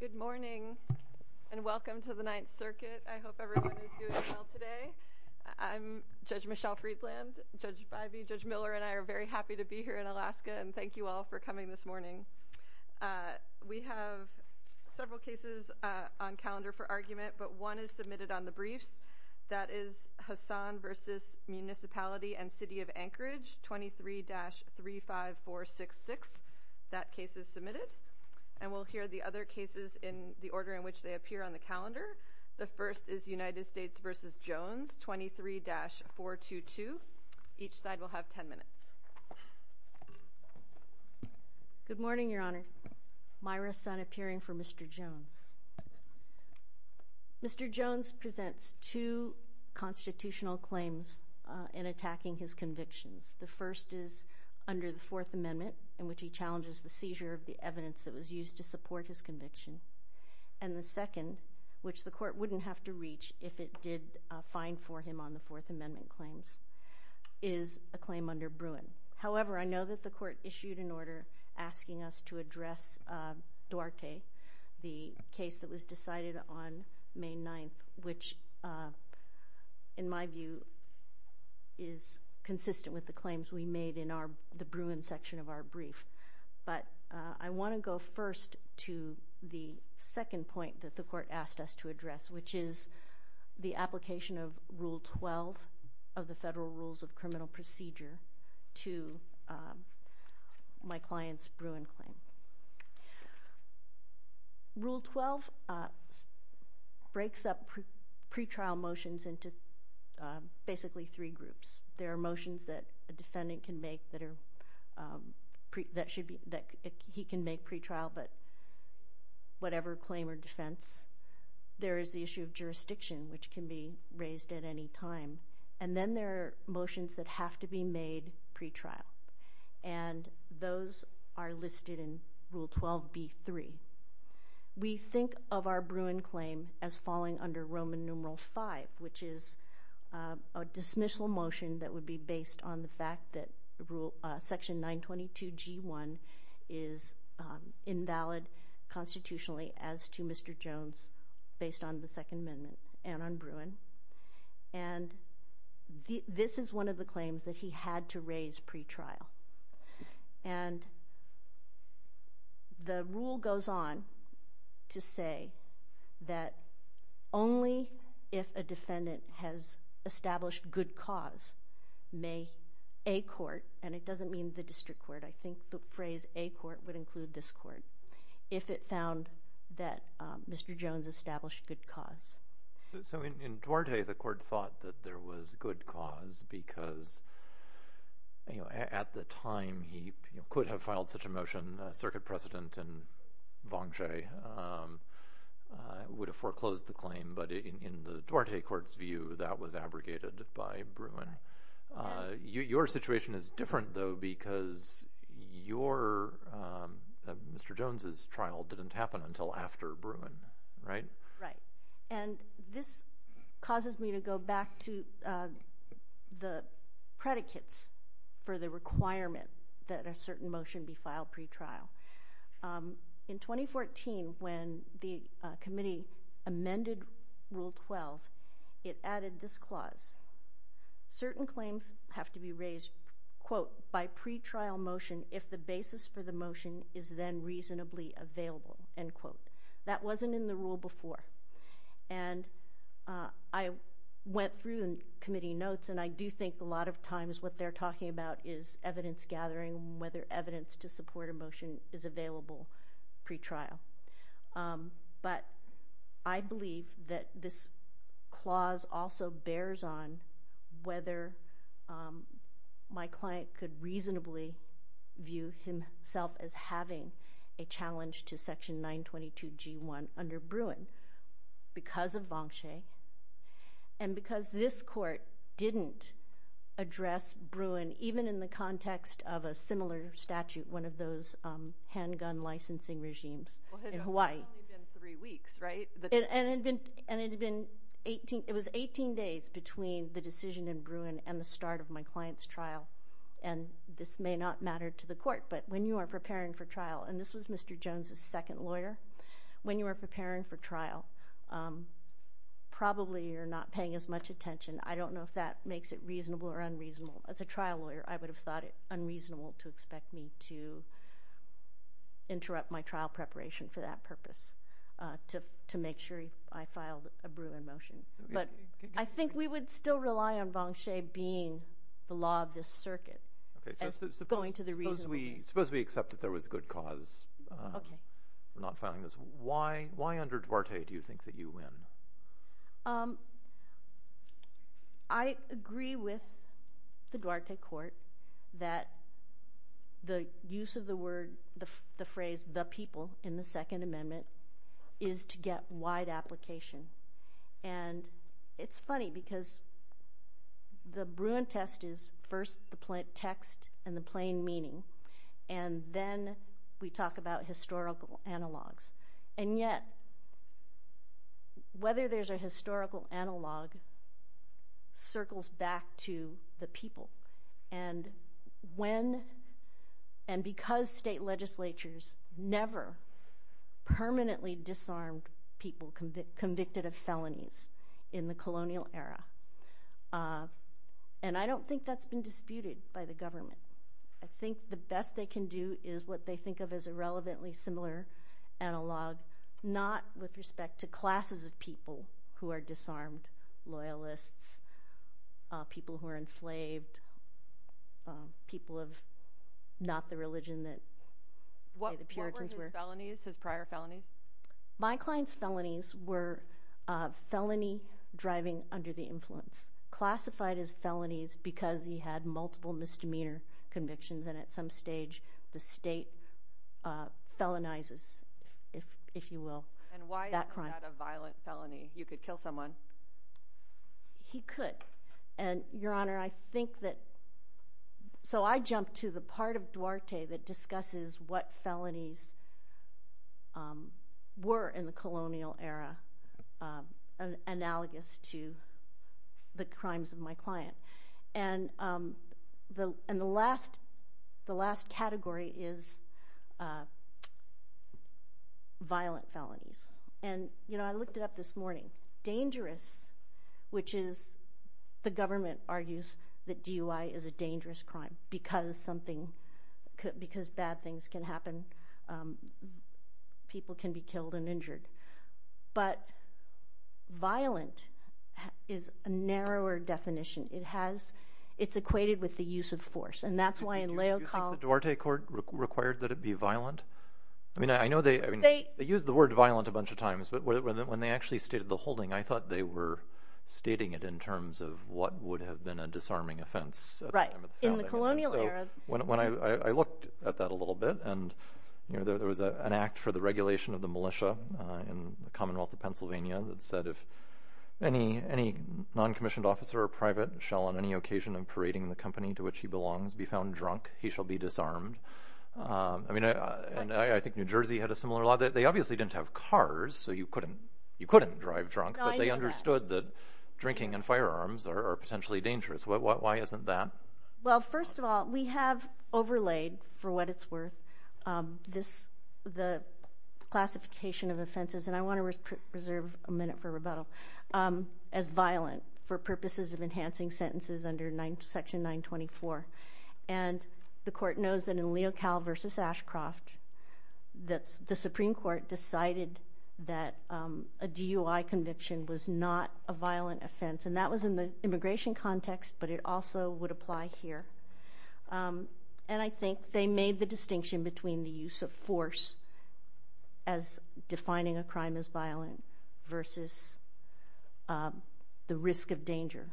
Good morning and welcome to the Ninth Circuit. I hope everyone is doing well today. I'm Judge Michelle Friedland. Judge Bivey, Judge Miller, and I are very happy to be here in Alaska, and thank you all for coming this morning. We have several cases on calendar for argument, but one is submitted on the briefs. That is Hassan v. Municipality and City of Anchorage, 23-35466. That case is submitted, and we'll hear the other cases in the order in which they appear on the calendar. The first is United States v. Jones, 23-422. Each side will have 10 minutes. Good morning, Your Honor. Myra Sun, appearing for Mr. Jones. Mr. Jones presents two constitutional claims in attacking his convictions. The first is under the Fourth Amendment, in which he challenges the seizure of the evidence that was used to support his conviction. And the second, which the Court wouldn't have to reach if it did fine for him on the Fourth Amendment claims, is a claim under Bruin. However, I know that the Court issued an order asking us to address Duarte, the case that was decided on May 9th, which, in my view, is consistent with the claims we made in the Bruin section of our brief. But I want to go first to the second point that the Court asked us to address, which is the application of Rule 12 of the Federal Rules of Criminal Procedure to my client's Bruin claim. Rule 12 breaks up pretrial motions into basically three groups. There are motions that a defendant can make that he can make pretrial, but whatever claim or defense. There is the issue of jurisdiction, which can be raised at any time. And then there are motions that have to be made pretrial. And those are listed in Rule 12b-3. We think of our Bruin claim as falling under Roman numeral 5, which is a dismissal motion that would be based on the fact that Section 922g-1 is invalid constitutionally as to Mr. Jones, based on the Second Amendment and on Bruin. And this is one of the claims that he had to raise pretrial. And the rule goes on to say that only if a defendant has established good cause may a court, and it doesn't mean the district court, I think the phrase a court would include this court, if it found that Mr. Jones established good cause. In Duarte, the court thought that there was good cause because at the time he could have filed such a motion, Circuit President and Vangie would have foreclosed the claim. But in the Duarte court's view, that was abrogated by Bruin. Your situation is different though, because Mr. Jones' trial didn't happen until after Bruin, right? Right. And this causes me to go back to the predicates for the requirement that a certain motion be filed pretrial. In 2014, when the committee amended Rule 12, it added this clause. Certain claims have to be raised, quote, by pretrial motion if the basis for the motion is then reasonably available, end quote. That wasn't in the rule before. And I went through the committee notes, and I do think a lot of times what they're talking about is evidence gathering, whether evidence to support a motion is available pretrial. But I believe that this clause also bears on whether my client could reasonably view himself as having a challenge to Section 922G1 under Bruin because of Vangie and because this court didn't address Bruin, even in the context of a similar statute, one of those handgun licensing regimes in which it was 18 days between the decision in Bruin and the start of my client's trial. And this may not matter to the court, but when you are preparing for trial, and this was Mr. Jones' second lawyer, when you are preparing for trial, probably you're not paying as much attention. I don't know if that makes it reasonable or unreasonable. As a trial lawyer, I would have thought it unreasonable to expect me to interrupt my trial preparation for that purpose, to make sure I filed a Bruin motion. But I think we would still rely on Vangie being the law of this circuit, and going to the reasonable. Suppose we accept that there was a good cause for not filing this. Why under Duarte do you think that you win? I agree with the Duarte court that the use of the word, the phrase, the people in the Second Amendment is to get wide application. And it's funny because the Bruin test is first the plain text and the plain meaning, and then we talk about historical analogs. And yet, whether there's a historical analog circles back to the people. And because state legislatures never permanently disarmed people convicted of felonies in the colonial era, and I don't think that's been disputed by the government. I think the best they can do is what they think of as a relevantly similar analog, not with respect to classes of people who are disarmed loyalists, people who are enslaved, people of not the religion that the Puritans were. What were his felonies, his prior felonies? My client's felonies were felony driving under the influence, classified as felonies because he had multiple misdemeanor convictions. And at some stage, the state felonizes, if you will, that crime. And why is that a violent felony? You could kill someone. He could. And, Your Honor, I think that, so I jumped to the part of Duarte that discusses what felonies were in the colonial era analogous to the crimes of my client. And the last category is violent felonies. And I looked it up this morning. Dangerous, which is the government argues that DUI is a dangerous crime because something, because bad things can happen. People can be killed and injured. But violent is a narrower definition. It has, it's equated with the use of force. And that's why in Leo College... Do you think the Duarte court required that it be violent? I mean, I know they, I mean, they use the word violent a bunch of times, but when they actually stated the holding, I thought they were stating it in terms of what would have been a disarming offense. Right. In the colonial era. When I looked at that a little bit and, you know, there was an act for the regulation of the militia in the Commonwealth of Pennsylvania that said if any non-commissioned officer or private shall on any occasion in parading the company to which he belongs be found drunk, he shall be disarmed. I mean, and I think New Jersey had a similar law that they obviously didn't have cars, so you couldn't, you couldn't drive drunk, but they understood that drinking and firearms are potentially dangerous. Why isn't that? Well, first of all, we have overlaid for what it's worth, this, the classification of offenses, and I want to reserve a minute for rebuttal, as violent for purposes of enhancing sentences under section 924. And the court knows that in Leo Colle versus Ashcroft, that the Supreme Court decided that a DUI conviction was not a violent offense, and that was in the immigration context, but it also would apply here. And I think they made the distinction between the use of force as defining a crime as violent versus the risk of danger.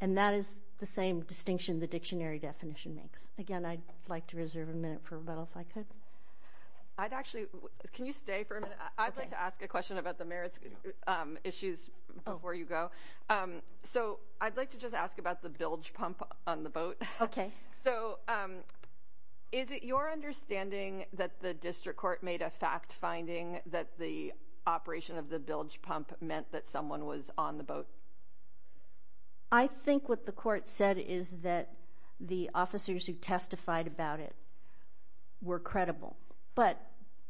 And that is the same distinction the dictionary definition makes. Again, I'd like to reserve a minute for rebuttal, if I could. I'd actually, can you stay for a minute? I'd like to ask a question about the merits issues before you go. So, I'd like to just ask about the bilge pump on the boat. Okay. So, is it your understanding that the district court made a fact finding that the operation of the bilge pump meant that someone was on the boat? I think what the court said is that the officers who testified about it were credible. But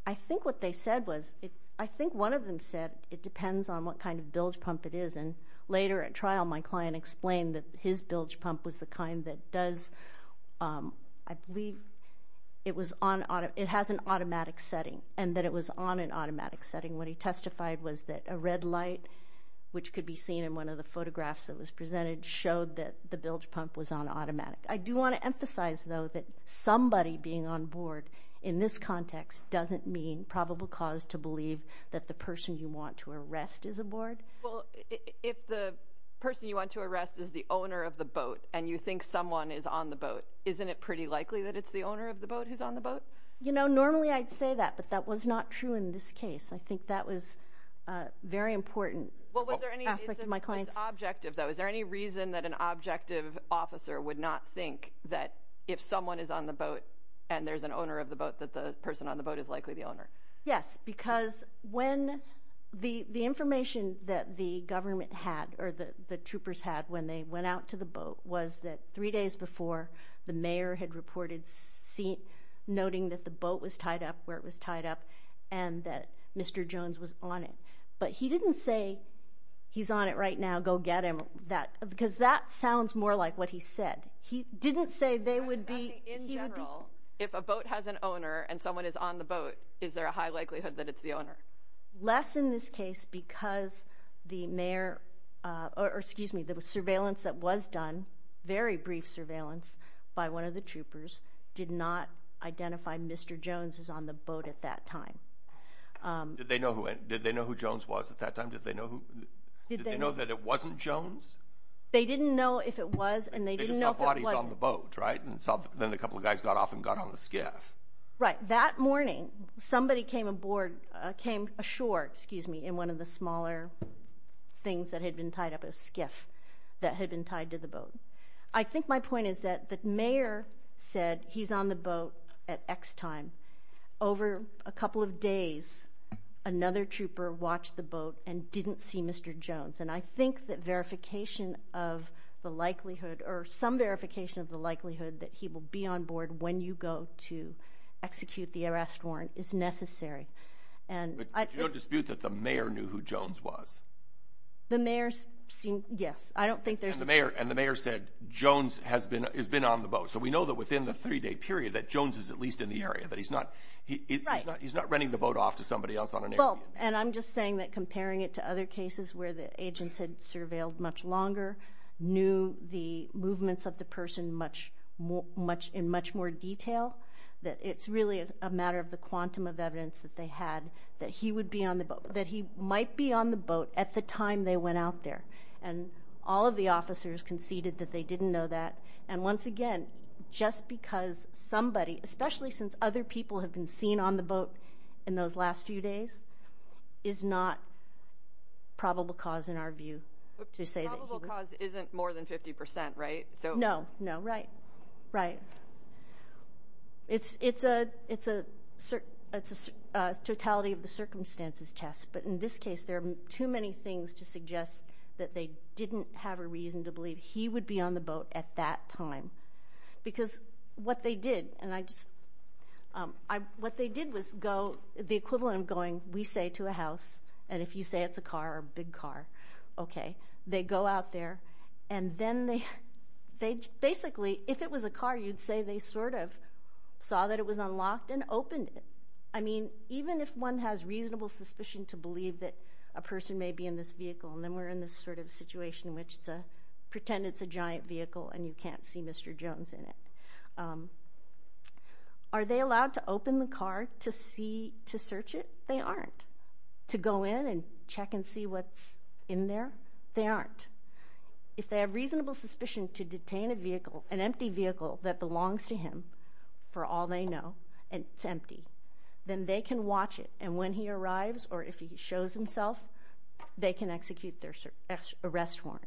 I think what they said was, I think one of them said, it depends on what kind of bilge pump it is. And later at trial, my client explained that his bilge pump was the kind that does, I believe, it was on, it has an automatic setting, and that it was on an automatic setting. What he testified was that a red light, which could be seen in one of the photographs that was the bilge pump, was on automatic. I do want to emphasize, though, that somebody being on board in this context doesn't mean probable cause to believe that the person you want to arrest is aboard. Well, if the person you want to arrest is the owner of the boat and you think someone is on the boat, isn't it pretty likely that it's the owner of the boat who's on the boat? You know, normally I'd say that, but that was not true in this case. I think that was a very important aspect of my client's... Well, was there any, it's objective, though. Is there any reason that an objective officer would not think that if someone is on the boat and there's an owner of the boat, that the person on the boat is likely the owner? Yes, because when, the information that the government had, or the troopers had when they went out to the boat was that three days before, the mayor had reported noting that the boat was tied up where it was tied up, and that Mr. Jones was on it. But he didn't say, he's on it right now, go get him, that, because that sounds more like what he said. He didn't say they would be... In general, if a boat has an owner and someone is on the boat, is there a high likelihood that it's the owner? Less in this case because the mayor, or excuse me, the surveillance that was done, very brief surveillance by one of the troopers, did not identify Mr. Jones as on the boat at that time. Did they know who, did they know who Jones was at that time? Did they know who, did they know that it wasn't Jones? They didn't know if it was, and they didn't know if it was... They just thought he's on the boat, right? And then a couple of guys got off and got on the skiff. Right. That morning, somebody came aboard, came ashore, excuse me, in one of the smaller things that had been tied up, a skiff that had been tied to the boat. I think my point is that the mayor watched the boat and didn't see Mr. Jones. And I think that verification of the likelihood, or some verification of the likelihood, that he will be on board when you go to execute the arrest warrant is necessary. But there's no dispute that the mayor knew who Jones was. The mayor's... Yes. I don't think there's... And the mayor said, Jones has been on the boat. So we know that within the three-day period that Jones is at least in the area, but he's not... Right. He's not renting the boat off to somebody else on an area. And I'm just saying that comparing it to other cases where the agents had surveilled much longer, knew the movements of the person in much more detail, that it's really a matter of the quantum of evidence that they had that he would be on the boat, that he might be on the boat at the time they went out there. And all of the officers conceded that they didn't know that. And once again, just because somebody, especially since other people have been seen on the boat in those last few days, is not probable cause in our view to say that he was... Probable cause isn't more than 50%, right? So... No, no. Right. Right. It's a totality of the circumstances test. But in this case, there are too many things to suggest that they didn't have a reason to believe he would be on the boat at that time. Because what they did, and I just... What they did was go... The equivalent of going, we say to a house, and if you say it's a car, a big car, okay. They go out there and then they... Basically, if it was a car, you'd say they sort of saw that it was unlocked and opened it. I mean, even if one has reasonable suspicion to believe that a person may be in this vehicle and you can't see Mr. Jones in it. Are they allowed to open the car to see... To search it? They aren't. To go in and check and see what's in there? They aren't. If they have reasonable suspicion to detain a vehicle, an empty vehicle that belongs to him, for all they know, and it's empty, then they can watch it. And when he arrives or if he shows himself, they can execute their arrest warrant.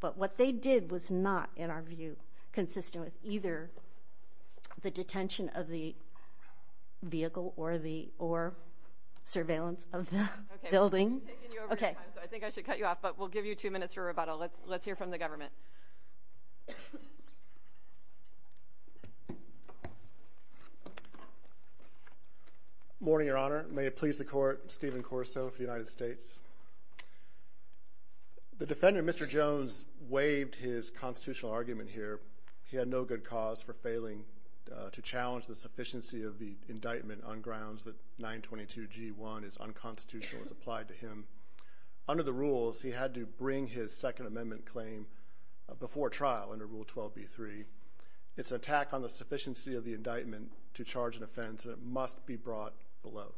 But what they did was not, in our view, consistent with either the detention of the vehicle or the... Or surveillance of the building. Okay. I think I should cut you off, but we'll give you two minutes for rebuttal. Let's hear from the government. Morning, Your Honor. May it please the court, Stephen Corso for the United States. The defendant, Mr. Jones, waived his constitutional argument here. He had no good cause for failing to challenge the sufficiency of the indictment on grounds that 922 G1 is unconstitutional as applied to him. Under the rules, he had to bring his Second Amendment, and he had no sufficiency of the indictment to charge an offense, and it must be brought below.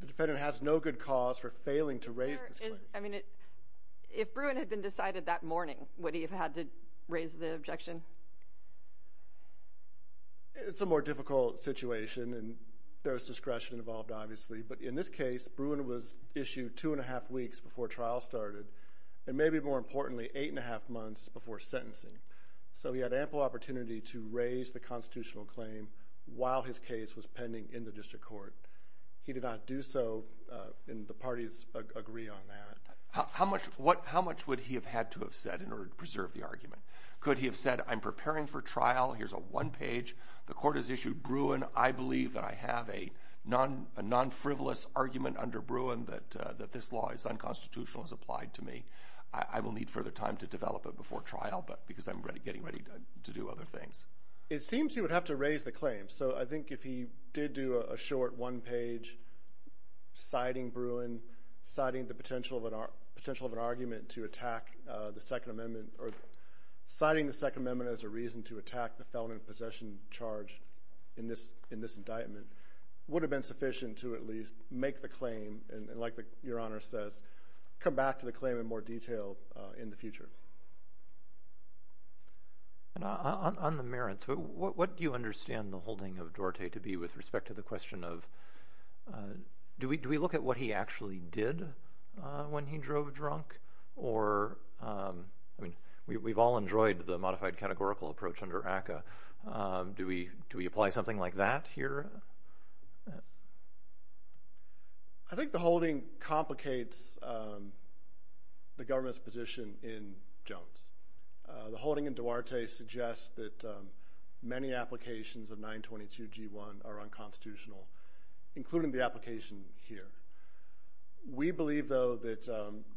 The defendant has no good cause for failing to raise this claim. I mean, if Bruin had been decided that morning, would he have had to raise the objection? It's a more difficult situation, and there was discretion involved, obviously. But in this case, Bruin was issued two and a half weeks before trial started, and maybe, more importantly, eight and a half months before sentencing. So he had ample opportunity to raise the constitutional claim while his case was pending in the district court. He did not do so, and the parties agree on that. How much would he have had to have said in order to preserve the argument? Could he have said, I'm preparing for trial. Here's a one-page. The court has issued Bruin. I believe that I have a non-frivolous argument under Bruin that this law is unconstitutional as applied to me. I will need further time to develop it before trial, but because I'm getting ready to do it. It seems he would have to raise the claim. So I think if he did do a short one-page, citing Bruin, citing the potential of an argument to attack the Second Amendment, or citing the Second Amendment as a reason to attack the felon in possession charge in this indictment, would have been sufficient to at least make the claim, and like Your Honor says, come back to the claim in more detail in the future. On the merits, what do you understand the holding of Dorte to be with respect to the question of, do we look at what he actually did when he drove drunk? Or, I mean, we've all enjoyed the modified categorical approach under ACCA. Do we apply something like that here? I think the holding complicates the government's position in Jones. The holding in Dorte suggests that many applications of 922-G1 are unconstitutional, including the application here. We believe, though, that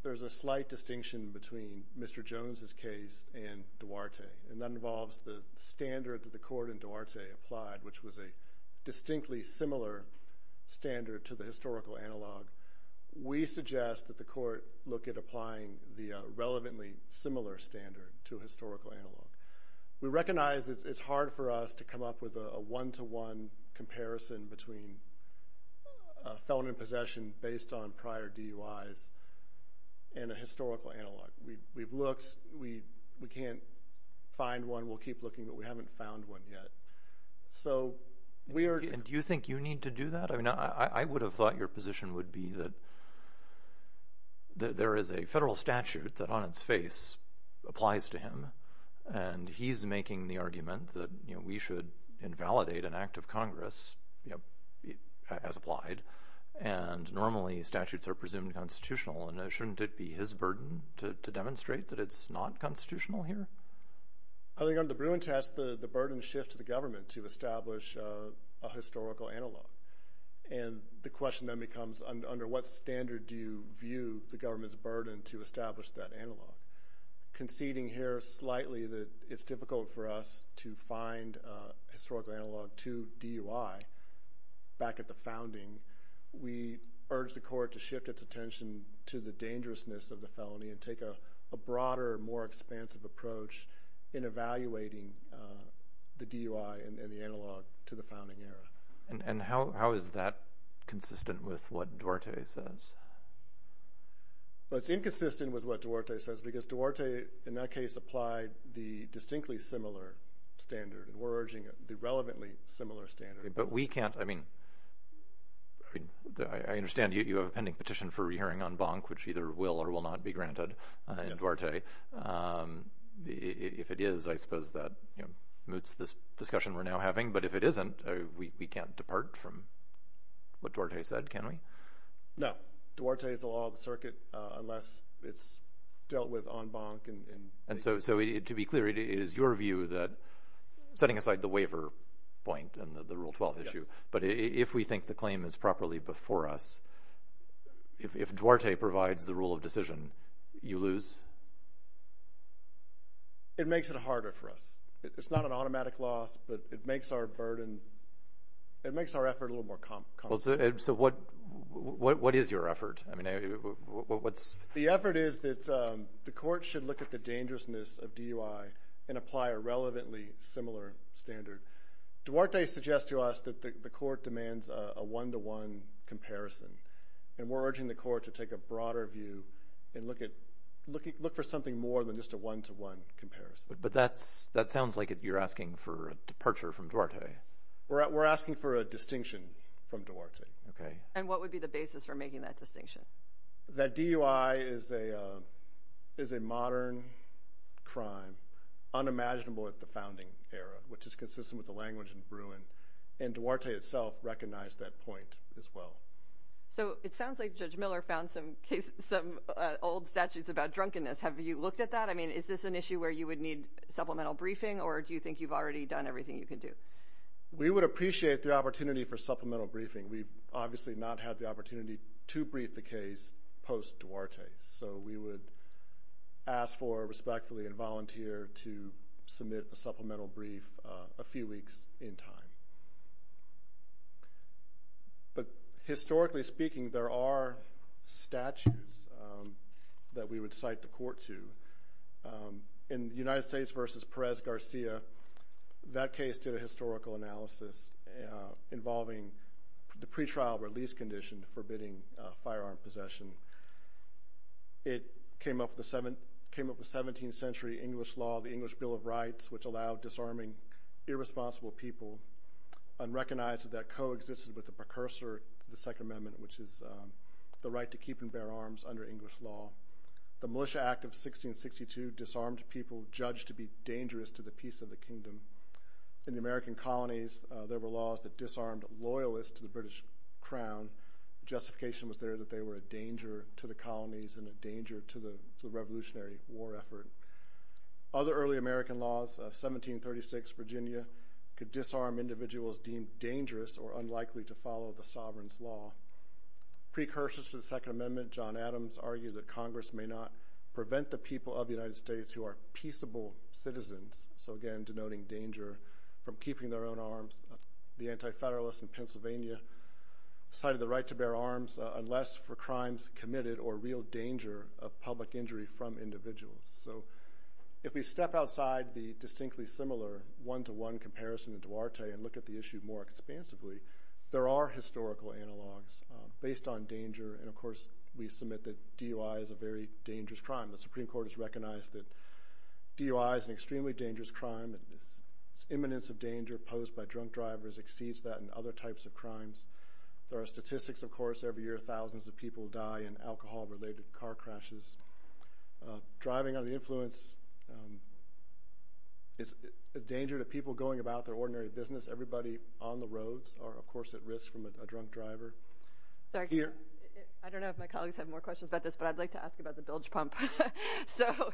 there's a slight distinction between Mr. Jones' case and Dorte, and that involves the standard that the court in Dorte applied, which was a distinction. It's a distinctly similar standard to the historical analog. We suggest that the court look at applying the relevantly similar standard to a historical analog. We recognize it's hard for us to come up with a one-to-one comparison between a felon in possession based on prior DUIs and a historical analog. We've looked. We can't find one. We'll keep looking, but we haven't found one yet. Do you think you need to do that? I would have thought your position would be that there is a federal statute that on its face applies to him, and he's making the argument that we should invalidate an act of Congress as applied, and normally statutes are presumed constitutional. Shouldn't it be his burden to demonstrate that it's not constitutional here? I think on the Bruin test, the burden shifts to the government to establish a historical analog, and the question then becomes under what standard do you view the government's burden to establish that analog? Conceding here slightly that it's difficult for us to find a historical analog to DUI back at the founding, we urge the court to shift its attention to the dangerousness of the felony and take a broader, more expansive approach. In evaluating the DUI and the analog to the founding era. How is that consistent with what Duarte says? It's inconsistent with what Duarte says because Duarte, in that case, applied the distinctly similar standard, and we're urging the relevantly similar standard. But we can't, I mean, I understand you have a pending petition for re-hearing on Bonk, which either will or will not be granted in Duarte. If it is, I suppose that moots this discussion we're now having, but if it isn't, we can't depart from what Duarte said, can we? No. Duarte is the law of the circuit unless it's dealt with on Bonk. And so to be clear, it is your view that, setting aside the waiver point and the Rule 12 issue, but if we think the claim is properly before us, if Duarte provides the rule of decision, you lose? It makes it harder for us. It's not an automatic loss, but it makes our burden, it makes our effort a little more complicated. So what is your effort? The effort is that the court should look at the dangerousness of DUI and apply a relevantly similar standard. Duarte suggests to us that the court demands a one-to-one comparison, and we're urging the court to take a broader view and look for something more than just a one-to-one comparison. But that sounds like you're asking for a departure from Duarte. We're asking for a distinction from Duarte. And what would be the basis for making that distinction? That DUI is a modern crime, unimaginable at the founding era, which is consistent with the language in Bruin, and Duarte itself recognized that point as well. So it sounds like Judge Miller found some old statutes about drunkenness. Have you looked at that? I mean, is this an issue where you would need supplemental briefing, or do you think you've already done everything you can do? We would appreciate the opportunity for supplemental briefing. We've obviously not had the opportunity to brief the case post-Duarte, so we would ask for, respectfully, and volunteer to submit a supplemental brief a few weeks in time. But historically speaking, there are statutes that we would cite the court to. In the United States v. Perez-Garcia, that case did a historical analysis involving the pretrial release condition forbidding firearm possession. It came up with 17th century English law, the English Bill of Rights, which allowed disarming irresponsible people, unrecognized that that coexisted with the precursor to the Second Amendment, which is the right to keep and bear arms under English law. The Militia Act of 1662 disarmed people judged to be dangerous to the peace of the kingdom. In the American colonies, there were laws that disarmed loyalists to the British crown. Justification was there that they were a danger to the colonies and a danger to the revolutionary war effort. Other early American laws, 1736 Virginia, could disarm individuals deemed dangerous or unlikely to follow the sovereign's law. Precursors to the Second Amendment, John Adams argued that Congress may not prevent the people of the United States who are peaceable citizens. Again, denoting danger from keeping their own arms. The Anti-Federalists in Pennsylvania cited the right to bear arms unless for crimes committed or real danger of public injury from individuals. If we step outside the distinctly similar one-to-one comparison in Duarte and look at the issue more expansively, there are historical analogs based on danger. Of course, we submit that DUI is a very dangerous crime. The Supreme Court has recognized that DUI is an extremely dangerous crime. Its imminence of danger posed by drunk drivers exceeds that in other types of crimes. There are statistics, of course, every year thousands of people die in alcohol-related car crashes. Driving under the influence is a danger to people going about their ordinary business. Everybody on the roads are, of course, at risk from a drunk driver. I don't know if my colleagues have more questions about this, but I'd like to ask about the bilge pump. So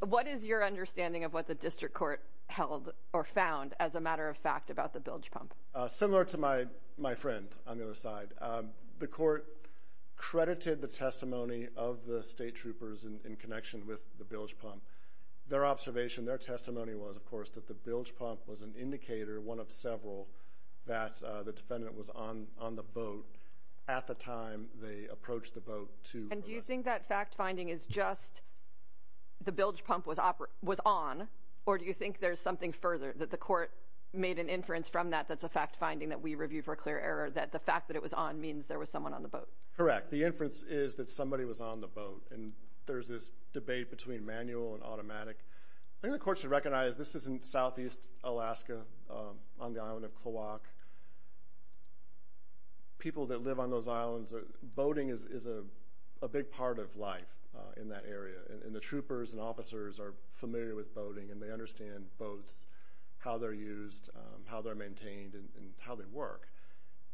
what is your understanding of what the district court held or found as a matter of fact about the bilge pump? Similar to my friend on the other side. The court credited the testimony of the state troopers in connection with the bilge pump. Their observation, their testimony was, of course, that the bilge pump was an indicator, one of several, that the defendant was on the boat at the time they approached the boat. And do you think that fact-finding is just the bilge pump was on, or do you think there's something further, that the court made an inference from that that's a fact-finding that we review for clear error, that the fact that it was on means there was someone on the boat? And there's this debate between manual and automatic. I think the court should recognize this is in southeast Alaska on the island of Kloak. People that live on those islands, boating is a big part of life in that area, and the troopers and officers are familiar with boating, and they understand boats, how they're used, how they're maintained, and how they work.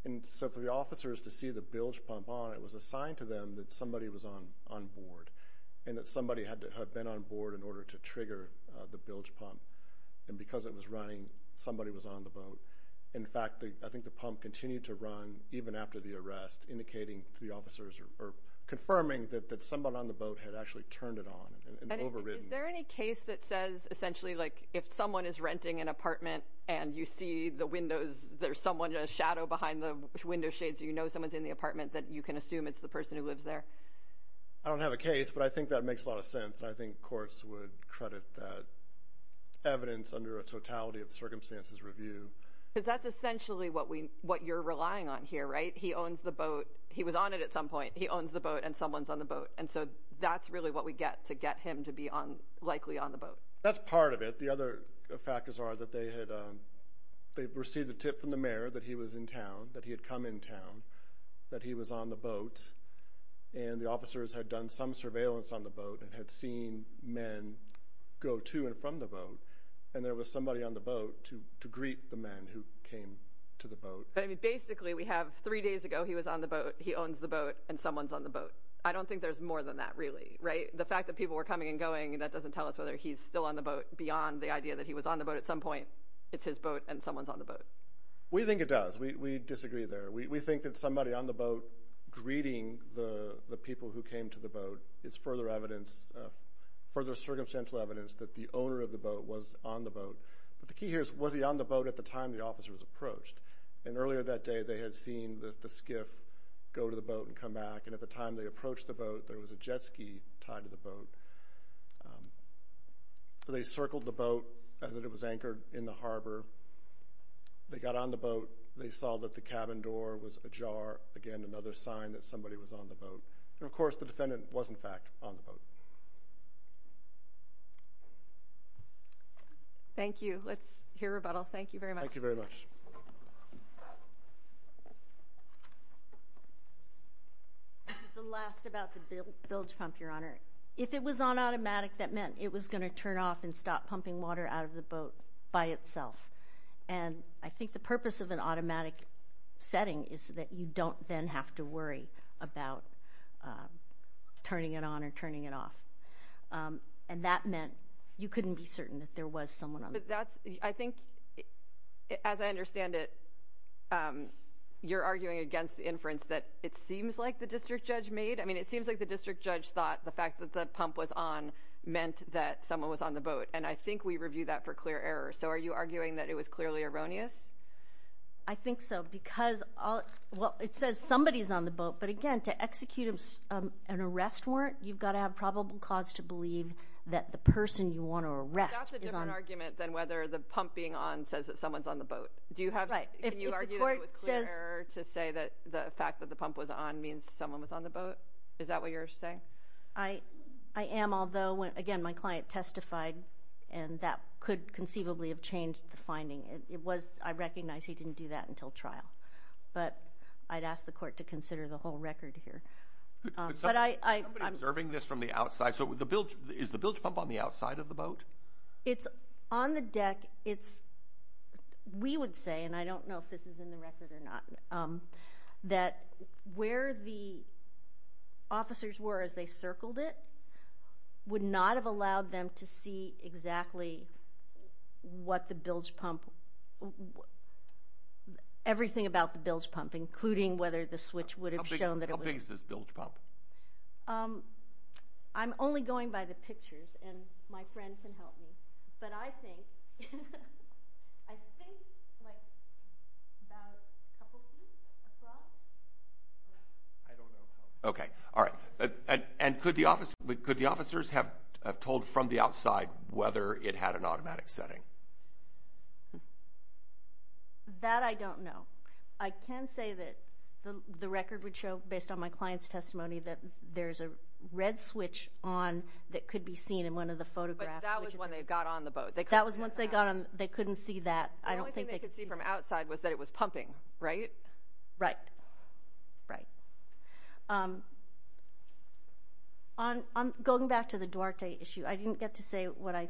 And so for the officers to see the bilge pump on, it was a sign to them that somebody was on board and that somebody had been on board in order to trigger the bilge pump. And because it was running, somebody was on the boat. In fact, I think the pump continued to run even after the arrest, indicating to the officers or confirming that someone on the boat had actually turned it on and overridden. Is there any case that says, essentially, like if someone is renting an apartment and you see the windows, there's someone, a shadow behind the window shades, you know someone's in the apartment, that you can assume it's the person who lives there? I don't have a case, but I think that makes a lot of sense, and I think courts would credit that evidence under a totality of circumstances review. Because that's essentially what you're relying on here, right? He owns the boat. He was on it at some point. He owns the boat, and someone's on the boat. And so that's really what we get to get him to be likely on the boat. That's part of it. But the other factors are that they had received a tip from the mayor that he was in town, that he had come in town, that he was on the boat, and the officers had done some surveillance on the boat and had seen men go to and from the boat, and there was somebody on the boat to greet the men who came to the boat. Basically, we have three days ago he was on the boat, he owns the boat, and someone's on the boat. I don't think there's more than that, really, right? The fact that people were coming and going, that doesn't tell us whether he's still on the boat beyond the idea that he was on the boat at some point. It's his boat, and someone's on the boat. We think it does. We disagree there. We think that somebody on the boat greeting the people who came to the boat is further circumstantial evidence that the owner of the boat was on the boat. But the key here is, was he on the boat at the time the officer was approached? And earlier that day they had seen the skiff go to the boat and come back, and at the time they approached the boat there was a jet ski tied to the boat. They circled the boat as it was anchored in the harbor. They got on the boat. They saw that the cabin door was ajar, again, another sign that somebody was on the boat. And, of course, the defendant was, in fact, on the boat. Thank you. Let's hear rebuttal. Thank you very much. Thank you very much. The last about the bilge pump, Your Honor. If it was on automatic, that meant it was going to turn off and stop pumping water out of the boat by itself. And I think the purpose of an automatic setting is that you don't then have to worry about turning it on or turning it off. But that's, I think, as I understand it, you're arguing against the inference that it seems like the district judge made. I mean, it seems like the district judge thought the fact that the pump was on meant that someone was on the boat. And I think we review that for clear error. So are you arguing that it was clearly erroneous? I think so because, well, it says somebody's on the boat. But, again, to execute an arrest warrant you've got to have probable cause to believe that the person you want to arrest is on the boat. It's a different argument than whether the pump being on says that someone's on the boat. Right. Can you argue that it was clear error to say that the fact that the pump was on means someone was on the boat? Is that what you're saying? I am, although, again, my client testified, and that could conceivably have changed the finding. I recognize he didn't do that until trial. But I'd ask the court to consider the whole record here. Is somebody observing this from the outside? So is the bilge pump on the outside of the boat? It's on the deck. We would say, and I don't know if this is in the record or not, that where the officers were as they circled it would not have allowed them to see exactly what the bilge pump, everything about the bilge pump, including whether the switch would have shown that it was. How big is this bilge pump? I'm only going by the pictures, and my friend can help me. But I think about a couple feet across. I don't know. Okay. All right. And could the officers have told from the outside whether it had an automatic setting? That I don't know. I can say that the record would show, based on my client's testimony, that there's a red switch on that could be seen in one of the photographs. But that was when they got on the boat. That was once they got on. They couldn't see that. The only thing they could see from outside was that it was pumping, right? Right. Right. On going back to the Duarte issue, I didn't get to say what I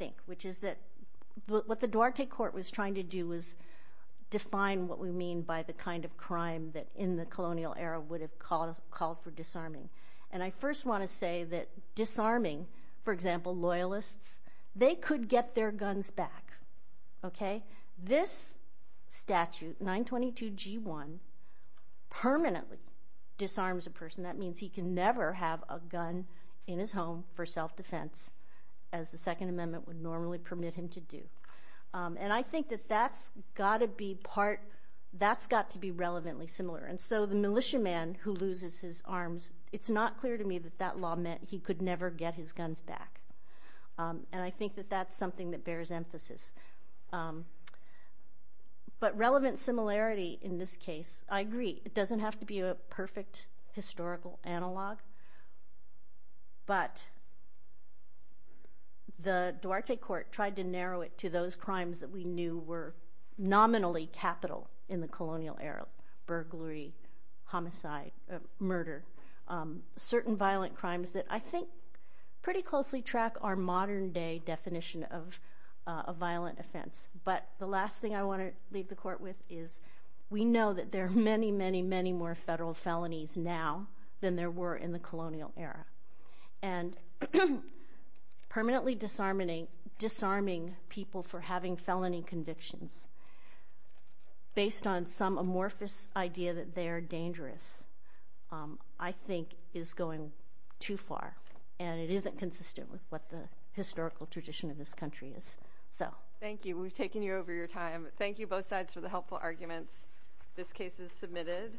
think, which is that what the Duarte court was trying to do was define what we mean by the kind of crime that in the colonial era would have called for disarming. And I first want to say that disarming, for example, loyalists, they could get their guns back, okay? This statute, 922G1, permanently disarms a person. That means he can never have a gun in his home for self-defense, as the Second Amendment would normally permit him to do. And I think that that's got to be relevantly similar. And so the militiaman who loses his arms, it's not clear to me that that law meant he could never get his guns back. And I think that that's something that bears emphasis. But relevant similarity in this case, I agree. It doesn't have to be a perfect historical analog. But the Duarte court tried to narrow it to those crimes that we knew were nominally capital in the colonial era, burglary, homicide, murder, certain violent crimes that I think pretty closely track our modern-day definition of a violent offense. But the last thing I want to leave the court with is we know that there are many, many, many more federal felonies now than there were in the colonial era. And permanently disarming people for having felony convictions based on some amorphous idea that they are dangerous, I think is going too far, and it isn't consistent with what the historical tradition of this country is. Thank you. We've taken you over your time. Thank you, both sides, for the helpful arguments. This case is submitted.